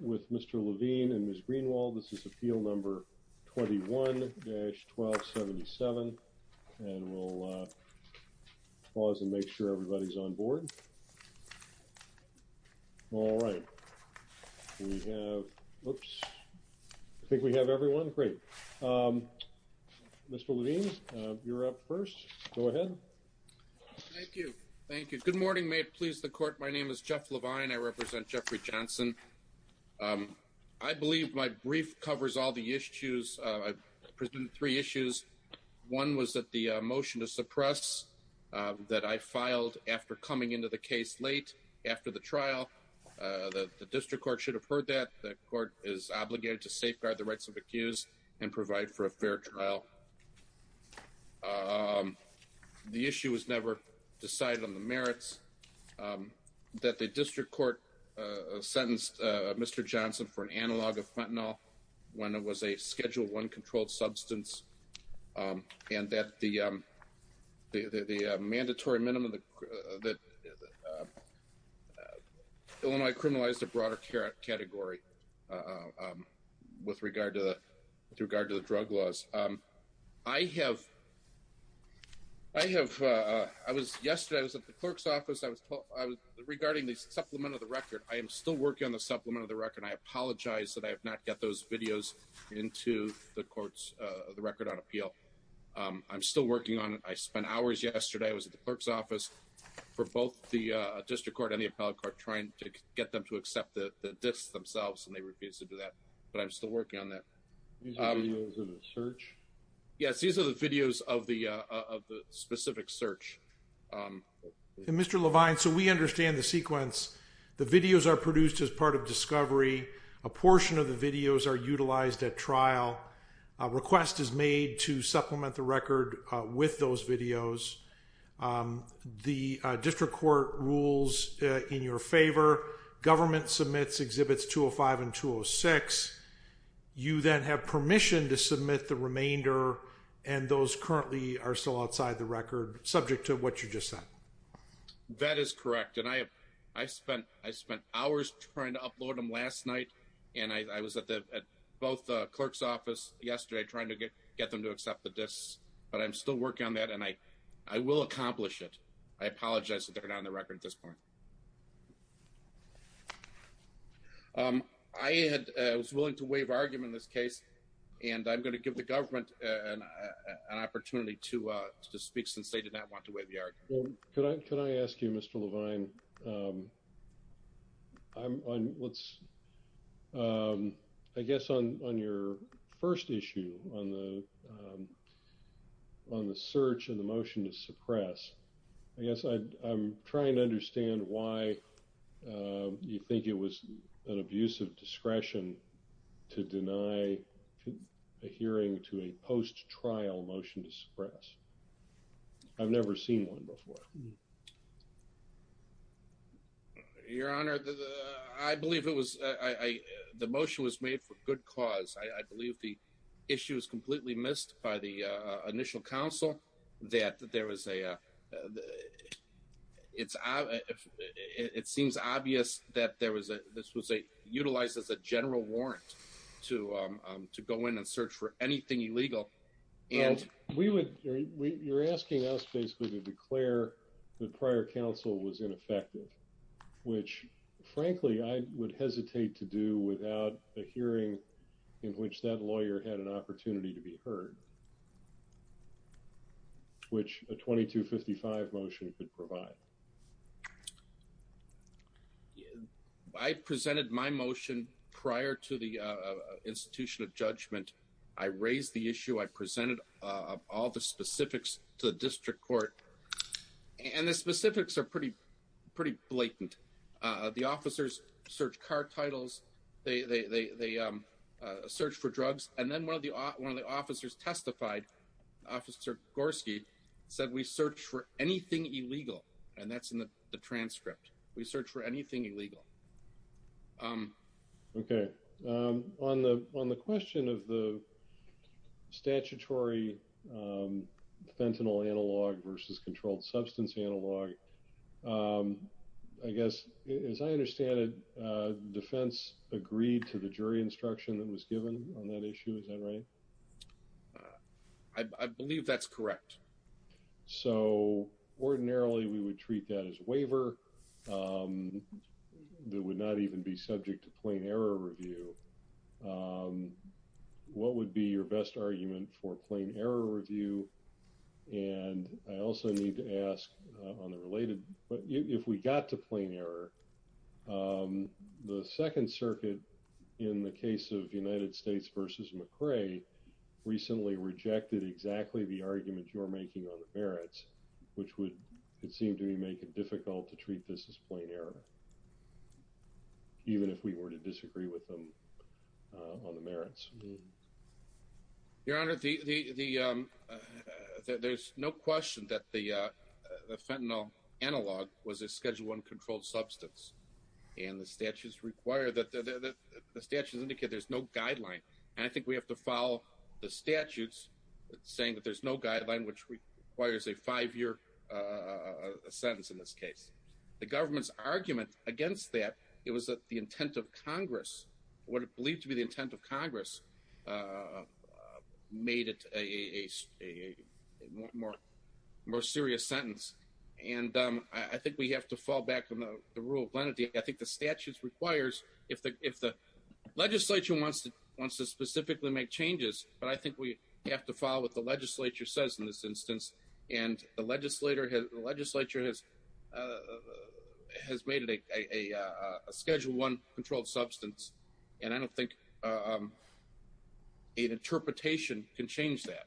with Mr. Levine and Ms. Greenwald. This is appeal number 21-1277 and we'll pause and make sure everybody's on board. All right. We have, whoops, I think we have everyone. Great. Mr. Levine, you're up first. Go ahead. Thank you. Thank you. Good morning. May it please the court. My name is Jeff Levine. I represent Jeffrey Johnson. I believe my brief covers all the issues. I present three issues. One was that the motion to suppress that I filed after coming into the case late after the trial. The district court should have heard that the court is obligated to safeguard the rights of accused and provide for a fair trial. The issue was never decided on the merits. That the district court sentenced Mr. Johnson for an analog of fentanyl when it was a schedule one controlled substance. And that the mandatory minimum that Illinois criminalized a broader category with regard to the drug laws. I have, I have, I was yesterday, I was at the clerk's office. I was regarding the supplement of the record. I am still working on the supplement of the record. I apologize that I have not got those videos into the courts. The record on appeal. I'm still working on it. I spent hours yesterday. I was at the clerk's office for both the district court and the appellate court trying to get them to accept that this themselves. And they refused to do that. But I'm still working on that. Search. Yes. These are the videos of the specific search. Mr. Levine, so we understand the sequence. The videos are produced as part of discovery. A portion of the videos are utilized at trial. A request is made to supplement the record with those videos. The district court rules in your favor. Government submits exhibits 205 and 206. You then have permission to submit the remainder. And those currently are still outside the record, subject to what you just said. That is correct. And I have, I spent, I spent hours trying to upload them last night. And I was at both the clerk's office yesterday, trying to get them to accept that this, but I'm still working on that. And I, I will accomplish it. I apologize that they're not on the record at this point. I was willing to waive argument in this case, and I'm going to give the government an opportunity to speak since they did not want to waive the argument. Can I ask you, Mr. Levine? I'm on. Let's. I guess on your first issue on the. On the search and the motion to suppress. I guess I'm trying to understand why you think it was an abuse of discretion. To deny a hearing to a post trial motion to suppress. I've never seen one before. Your honor, I believe it was, I, the motion was made for good cause. I believe the. Issues completely missed by the initial council that there was a. It's it seems obvious that there was a, this was a utilized as a general warrant. To go in and search for anything illegal. And we would, you're asking us basically to declare the prior council was ineffective. Which, frankly, I would hesitate to do without a hearing. In which that lawyer had an opportunity to be heard. Which a 2255 motion could provide. I presented my motion prior to the institution of judgment. I raised the issue I presented all the specifics to the district court. And the specifics are pretty. Pretty blatant, the officers search car titles. They search for drugs, and then 1 of the 1 of the officers testified. And then the 1 of the officers testified. Officer Gorski said, we search for anything illegal. And that's in the transcript. We search for anything illegal. Okay. On the, on the question of the. Statutory. Fentanyl analog versus controlled substance analog. I'm sorry. I guess, as I understand it. Defense agreed to the jury instruction that was given on that issue. Is that right? I believe that's correct. So, ordinarily, we would treat that as waiver. That would not even be subject to plain error review. What would be your best argument for plain error review? And I also need to ask on the related, but if we got to plain error. The 2nd circuit. In the case of United States versus McRae. Recently rejected exactly the argument you're making on the merits. Which would seem to me, make it difficult to treat this as plain error. Even if we were to disagree with them. On the merits. Your honor, the. There's no question that the. Analog was a schedule 1 controlled substance. And the statutes require that the statutes indicate there's no guideline. And I think we have to follow the statutes. Saying that there's no guideline, which requires a 5 year. A sentence in this case. The government's argument against that. It was the intent of Congress. What it believed to be the intent of Congress. Made it a more. More serious sentence. And I think we have to fall back on the rule of lenity. I think the statutes requires if the. Legislature wants to wants to specifically make changes. But I think we have to follow what the legislature says in this instance. And the legislator has the legislature has. Has made it a schedule 1 controlled substance. And I don't think. An interpretation can change that.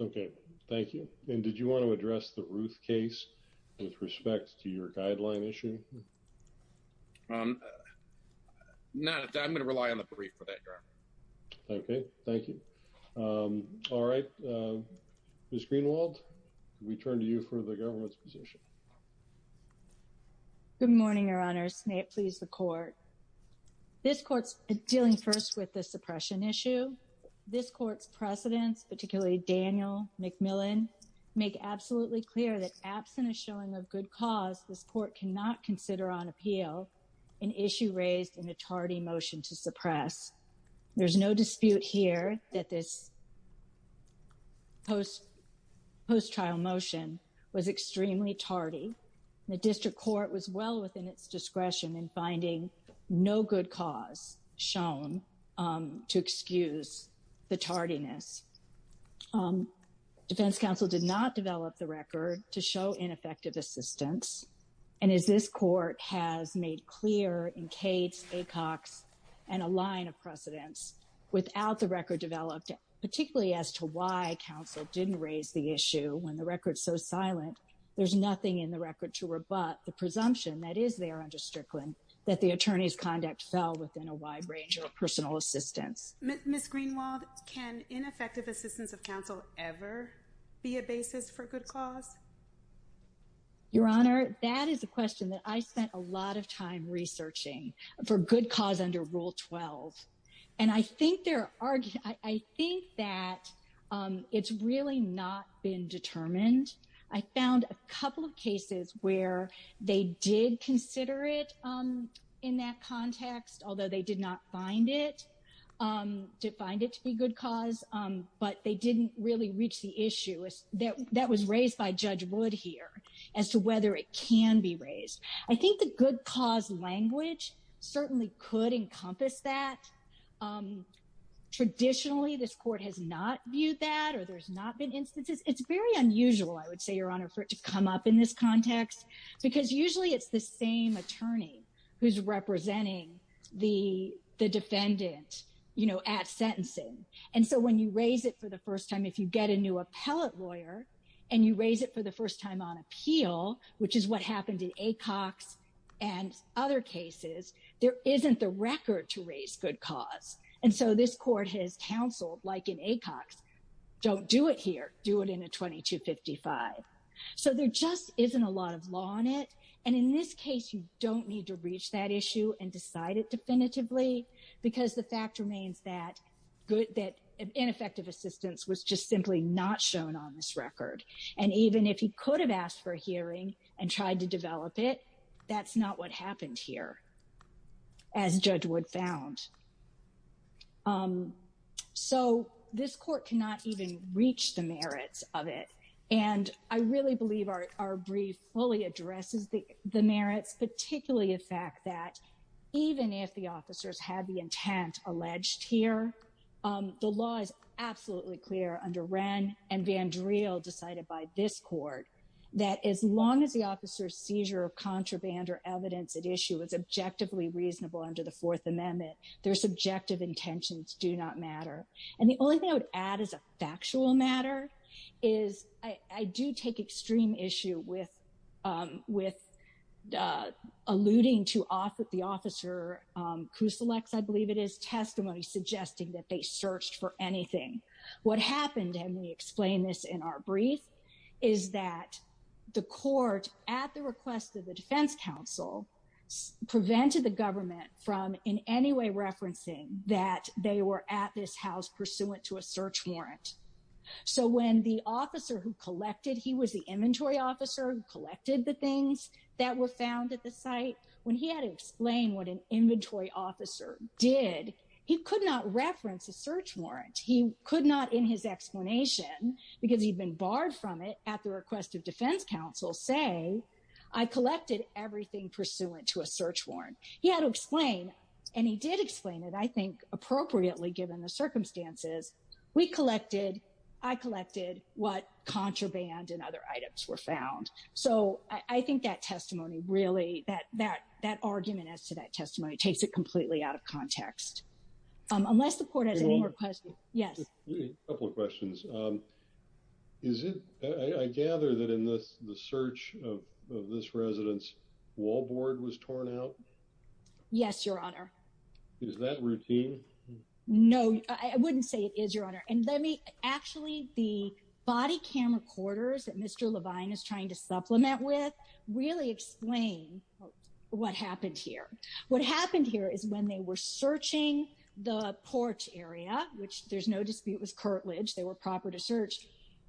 Okay, thank you. And did you want to address the Ruth case? With respect to your guideline issue. Not that I'm going to rely on the brief for that. Okay, thank you. All right. Ms. Greenwald. We turn to you for the government's position. Good morning, your honors. May it please the court. This court's dealing first with the suppression issue. This court's precedents, particularly Daniel McMillan. Make absolutely clear that absent a showing of good cause. This court cannot consider on appeal. An issue raised in a tardy motion to suppress. There's no dispute here that this. Post. Post trial motion was extremely tardy. The district court was well within its discretion in finding. No good cause shown. To excuse the tardiness. Defense counsel did not develop the record to show ineffective assistance. And as this court has made clear in Kate's a cocks. And a line of precedents without the record developed. Particularly as to why counsel didn't raise the issue when the record so silent. There's nothing in the record to rebut the presumption that is there under Strickland. That the attorney's conduct fell within a wide range of personal assistance. Ms. Greenwald can ineffective assistance of counsel ever. Be a basis for good cause. Your honor. That is a question that I spent a lot of time researching for good cause under rule 12. And I think there are. I think that. It's really not been determined. I found a couple of cases where they did consider it. In that context, although they did not find it. Defined it to be good cause. But they didn't really reach the issue. That was raised by judge wood here. As to whether it can be raised. I think the good cause language. Certainly could encompass that. Traditionally, this court has not viewed that or there's not been instances. It's very unusual. I would say your honor for it to come up in this context. Because usually it's the same attorney. Who's representing. The defendant. You know, at sentencing. And so when you raise it for the first time, if you get a new appellate lawyer. And you raise it for the first time on appeal, which is what happened in ACOX. And other cases. There isn't the record to raise good cause. And so this court has counseled like an ACOX. Don't do it here. Do it in a 2255. So there just isn't a lot of law on it. And in this case, you don't need to reach that issue and decide it definitively. Because the fact remains that. Good that ineffective assistance was just simply not shown on this record. And even if he could have asked for a hearing and tried to develop it. That's not what happened here. As judge would found. So this court cannot even reach the merits of it. And I really believe our, our brief fully addresses. The merits, particularly the fact that. Even if the officers had the intent alleged here. The law is absolutely clear under Wren and Vandriel decided by this court. That as long as the officer seizure of contraband or evidence at issue is objectively reasonable under the fourth amendment, there's subjective intentions do not matter. And the only thing I would add is a factual matter. Is I do take extreme issue with. Alluding to off with the officer who selects, I believe it is testimony suggesting that they searched for anything. What happened. And we explained this in our brief. Is that the court at the request of the defense council. Prevented the government from in any way, referencing that they were at this house pursuant to a search warrant. So when the officer who collected, He was the inventory officer who collected the things that were found at the site. When he had to explain what an inventory officer did. He could not reference a search warrant. He could not in his explanation because he'd been barred from it at the request of defense council say. I collected everything pursuant to a search warrant. He had to explain. And he did explain it. I think appropriately given the circumstances. We collected. I collected what contraband and other items were found. So I think that testimony really, that, that, that argument as to that testimony takes it completely out of context. Unless the court has any more questions. Yes. A couple of questions. Is it. I gather that in this, the search of, of this residence. Wall board was torn out. Yes, your honor. Is that routine? No, I wouldn't say it is your honor. And the reason for that is because. The floor. And let me actually be. Body cam recorders that mr. Levine is trying to supplement with really explain. What happened here. What happened here is when they were searching the porch area, which there's no dispute was curtilage. They were proper to search.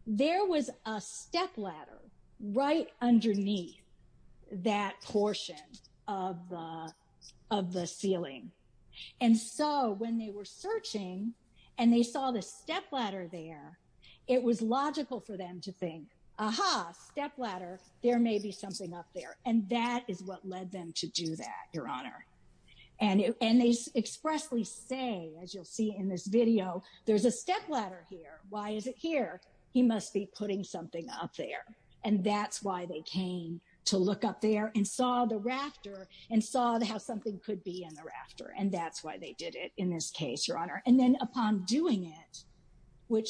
There was a step ladder. Right underneath. That portion of the, of the ceiling. And so when they were searching and they saw the step ladder there. It was logical for them to think, aha, step ladder. There may be something up there. And that is what led them to do that. Your honor. And, and they expressly say, as you'll see in this video, there's a step ladder here. Why is it here? He must be putting something up there. And that's why they came to look up there and saw the rafter and saw the, how something could be in the rafter. And that's why they did it in this case, your honor. And then upon doing it. Which.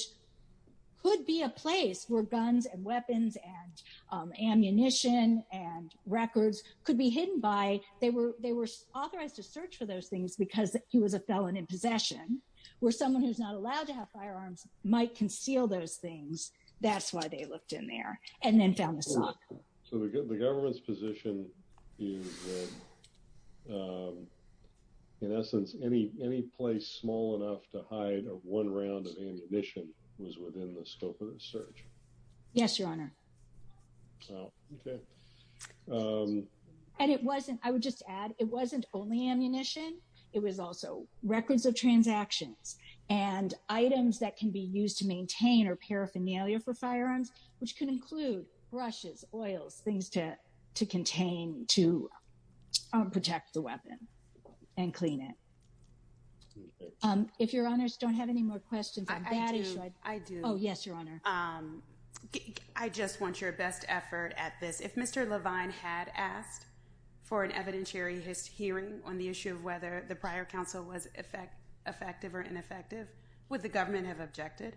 Could be a place where guns and weapons and ammunition and records could be hidden by they were, they were authorized to search for those things because he was a felon in possession. And so they found a position where someone who's not allowed to have firearms might conceal those things. That's why they looked in there and then found the sock. So we're good. The government's position. In essence, any, any place small enough to hide a one round of ammunition was within the scope of the search. Yes, your honor. Okay. And it wasn't, I would just add, it wasn't only ammunition. It was also records of transactions and items that can be used to maintain or paraphernalia for firearms, which can include brushes, oils, things to contain, to protect the weapon and clean it. If your honors don't have any more questions. I do. Oh yes, your honor. I just want your best effort at this. If Mr. Levine had asked for an evidentiary, his hearing on the issue of whether the prior council was effect effective or ineffective with the government have objected.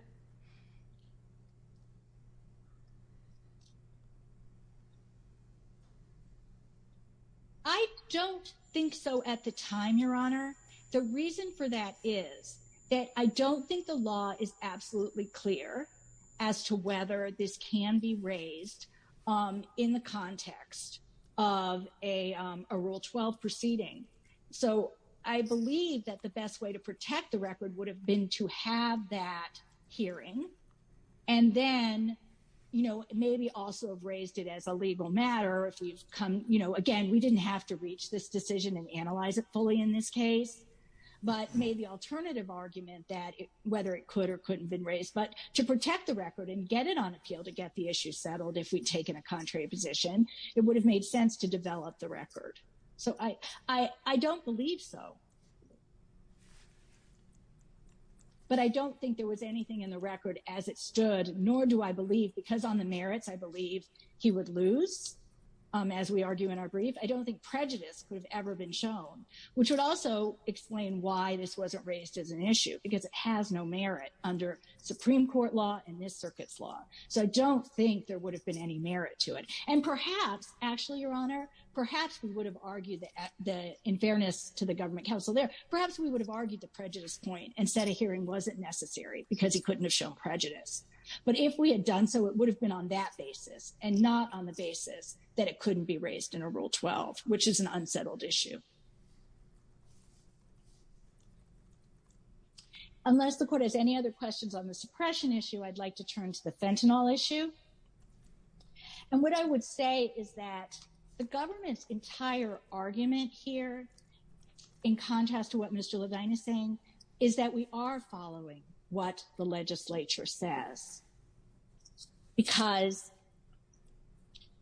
I don't think so at the time, your honor. The reason for that is that I don't think the law is absolutely clear as to whether this can be raised in the context of a rule 12 proceeding. So I believe that the best way to protect the record would have been to have that hearing. And then, you know, maybe also have raised it as a legal matter. If you've come, you know, again, we didn't have to reach this decision and analyze it fully in this case, but maybe alternative argument that whether it could or couldn't have been raised, but to protect the record and get it on appeal to get the issue settled. If we'd taken a contrary position, it would have made sense to develop the record. So I, I, I don't believe so. But I don't think there was anything in the record as it stood, nor do I believe because on the merits, I believe he would lose. As we argue in our brief, I don't think prejudice could have ever been shown, which would also explain why this wasn't raised as an issue, because it has no merit under Supreme court law and this circuit's law. So I don't think there would have been any merit to it. And perhaps actually your honor, perhaps we would have argued that the in fairness to the government council there, perhaps we would have argued the prejudice point and set a hearing wasn't necessary because he couldn't have shown prejudice. But if we had done so, it would have been on that basis and not on the basis that it couldn't be raised in a rule 12, which is an unsettled issue. Unless the court has any other questions on the suppression issue, I'd like to turn to the fentanyl issue. And what I would say is that the government's entire argument here in contrast to what Mr. Levine is saying is that we are following what the legislature says because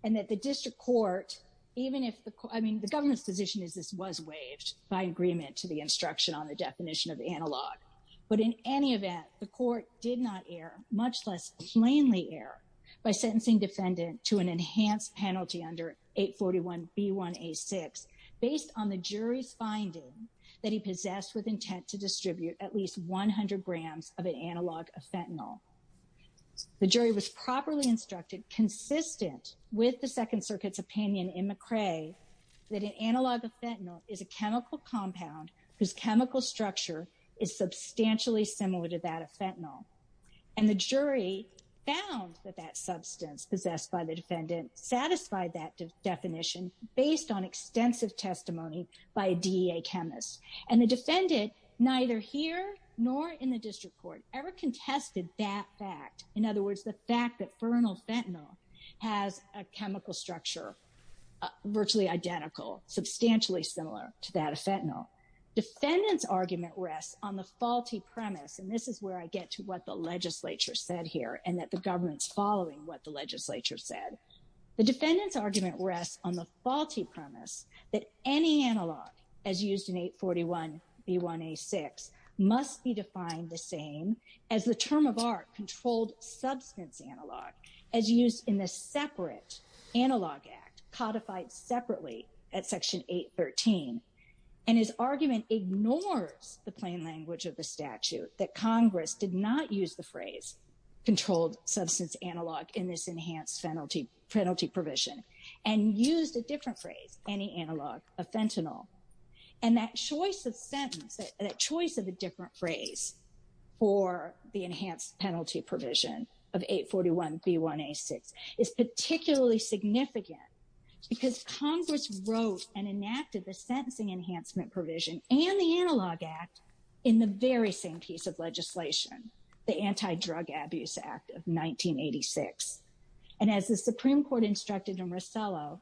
and that the district court, even if the, I mean, the government's position is this was waived by agreement to the instruction on the definition of the analog, but in any event, the court did not air much less plainly air by sentencing defendant to an enhanced penalty under eight 41 B one, a six based on the jury's finding that he possessed with intent to distribute at least 100 grams of an analog of fentanyl. The jury was properly instructed consistent with the second circuit's opinion in McRae that an analog of fentanyl is a chemical compound whose chemical structure is substantially similar to that of fentanyl. And the jury found that that substance possessed by the defendant satisfied that definition based on extensive testimony by a DEA chemist. And the defendant neither here nor in the district court ever contested that fact. In other words, the fact that fernal fentanyl has a chemical structure virtually identical, substantially similar to that of fentanyl. Defendants argument rests on the faulty premise. And this is where I get to what the legislature said here and that the government's following what the legislature said. The defendant's argument rests on the faulty premise that any analog as used in eight 41 B one, a six must be defined the same as the term of art controlled substance analog as used in the separate analog act codified separately at section eight 13 and his argument ignores the plain language of the statute, that Congress did not use the phrase controlled substance analog in this enhanced penalty penalty provision and used a different phrase, any analog of fentanyl and that choice of sentence, that choice of a different phrase for the enhanced penalty provision of eight 41 B one a six is particularly significant because Congress wrote and enacted the sentencing enhancement provision and the analog act in the very same piece of legislation, the anti-drug abuse act of 1986. And as the Supreme court instructed in Rosello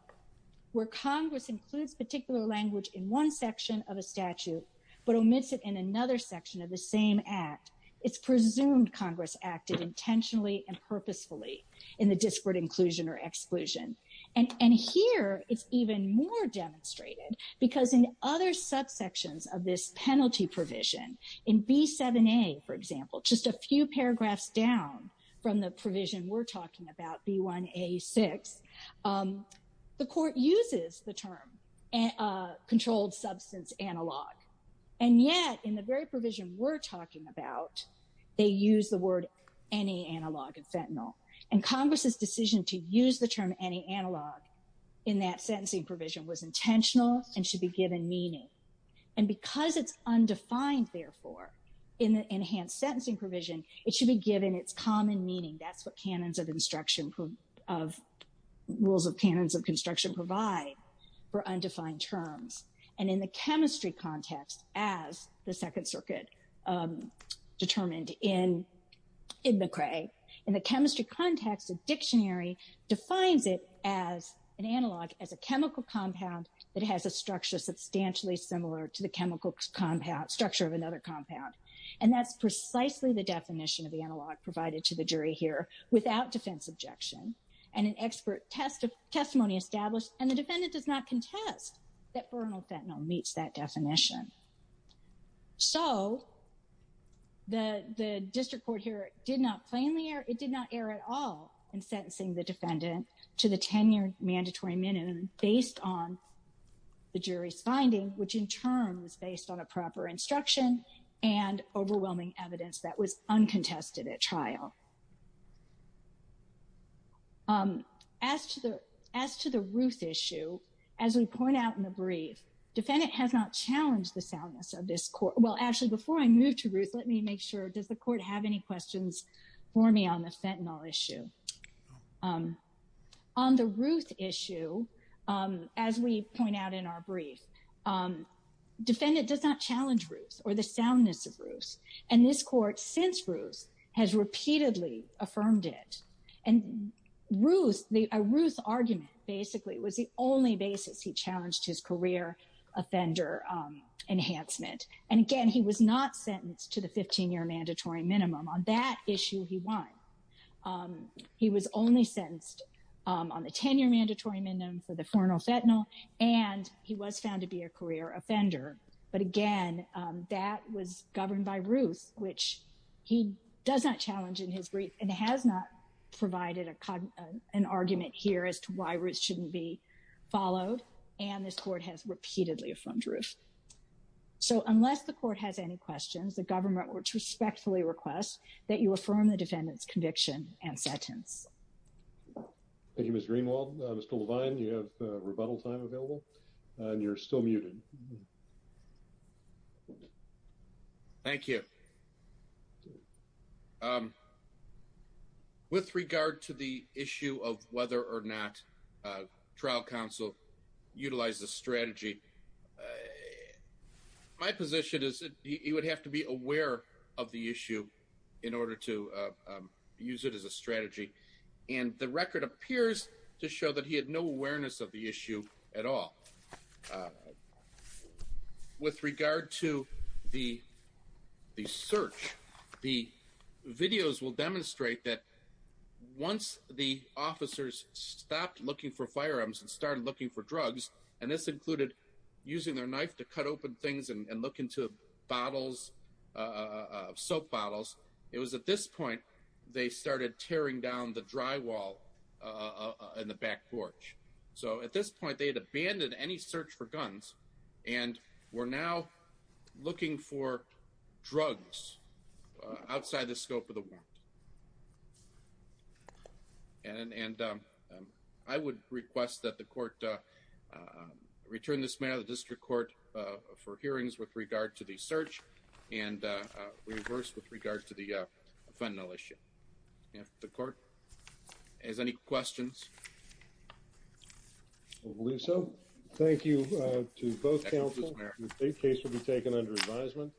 where Congress includes particular language in one section of a statute, but omits it in another section of the same act, it's presumed Congress acted intentionally and purposefully in the disparate inclusion or exclusion. And, and here it's even more demonstrated because in other subsections of this penalty provision in B seven, a, for example, just a few paragraphs down from the provision we're talking about B one, a six the court uses the term and a controlled substance analog. And yet in the very provision we're talking about, they use the word any analog and fentanyl and Congress's decision to use the analog in that sentencing provision was intentional and should be given meaning. And because it's undefined, therefore, in the enhanced sentencing provision, it should be given its common meaning. That's what canons of instruction of rules of canons of construction provide for undefined terms. And in the chemistry context, as the second circuit determined in, in McCrae in the chemistry context, a dictionary defines it as an analog as a chemical compound that has a structure substantially similar to the chemical compound structure of another compound. And that's precisely the definition of the analog provided to the jury here without defense objection and an expert test of testimony established. And the defendant does not contest that fernal fentanyl meets that definition. So the, the district court here did not plainly err. It did not err at all in sentencing the defendant to the 10 year mandatory minimum based on the jury's finding, which in turn was based on a proper instruction and overwhelming evidence that was uncontested at trial. As to the, as to the Ruth issue, as we point out in the brief, defendant has not challenged the soundness of this court. Well, actually before I moved to Ruth, let me make sure, does the court have any questions for me on the fentanyl issue? On the Ruth issue, as we point out in our brief, defendant does not challenge Ruth or the soundness of Ruth. And this court since Ruth has repeatedly affirmed it and Ruth, the Ruth argument basically was the only basis he challenged his career offender enhancement. And again, he was not sentenced to the 15 year mandatory minimum on that issue he won. He was only sentenced on the 10 year mandatory minimum for the fernal fentanyl and he was found to be a career offender. But again, that was governed by Ruth, which he does not challenge in his brief and has not provided an argument here as to why Ruth shouldn't be followed. And this court has repeatedly affirmed Ruth. So unless the court has any questions, the government would respectfully request that you affirm the defendant's conviction and sentence. Thank you, Ms. Greenwald. Mr. Levine, you have a rebuttal time available. And you're still muted. Thank you. Okay. Um, with regard to the issue of whether or not, uh, trial counsel utilize the strategy, uh, my position is that he would have to be aware of the issue in order to, uh, um, use it as a strategy. And the record appears to show that he had no awareness of the issue at all. Um, with regard to the, the search, the videos will demonstrate that once the officers stopped looking for firearms and started looking for drugs, and this included using their knife to cut open things and look into bottles, uh, soap bottles. It was at this point, they started tearing down the drywall, uh, in the back porch. So at this point, they had abandoned any search for guns and we're now looking for drugs, uh, outside the scope of the warrant. And, and, um, um, I would request that the court, uh, uh, return this matter, the district court, uh, for hearings with regard to the search and, uh, uh, reverse with regard to the, uh, fund militia. Yeah. The court has any questions. I believe so. Thank you to both counsel. The case will be taken under advisement.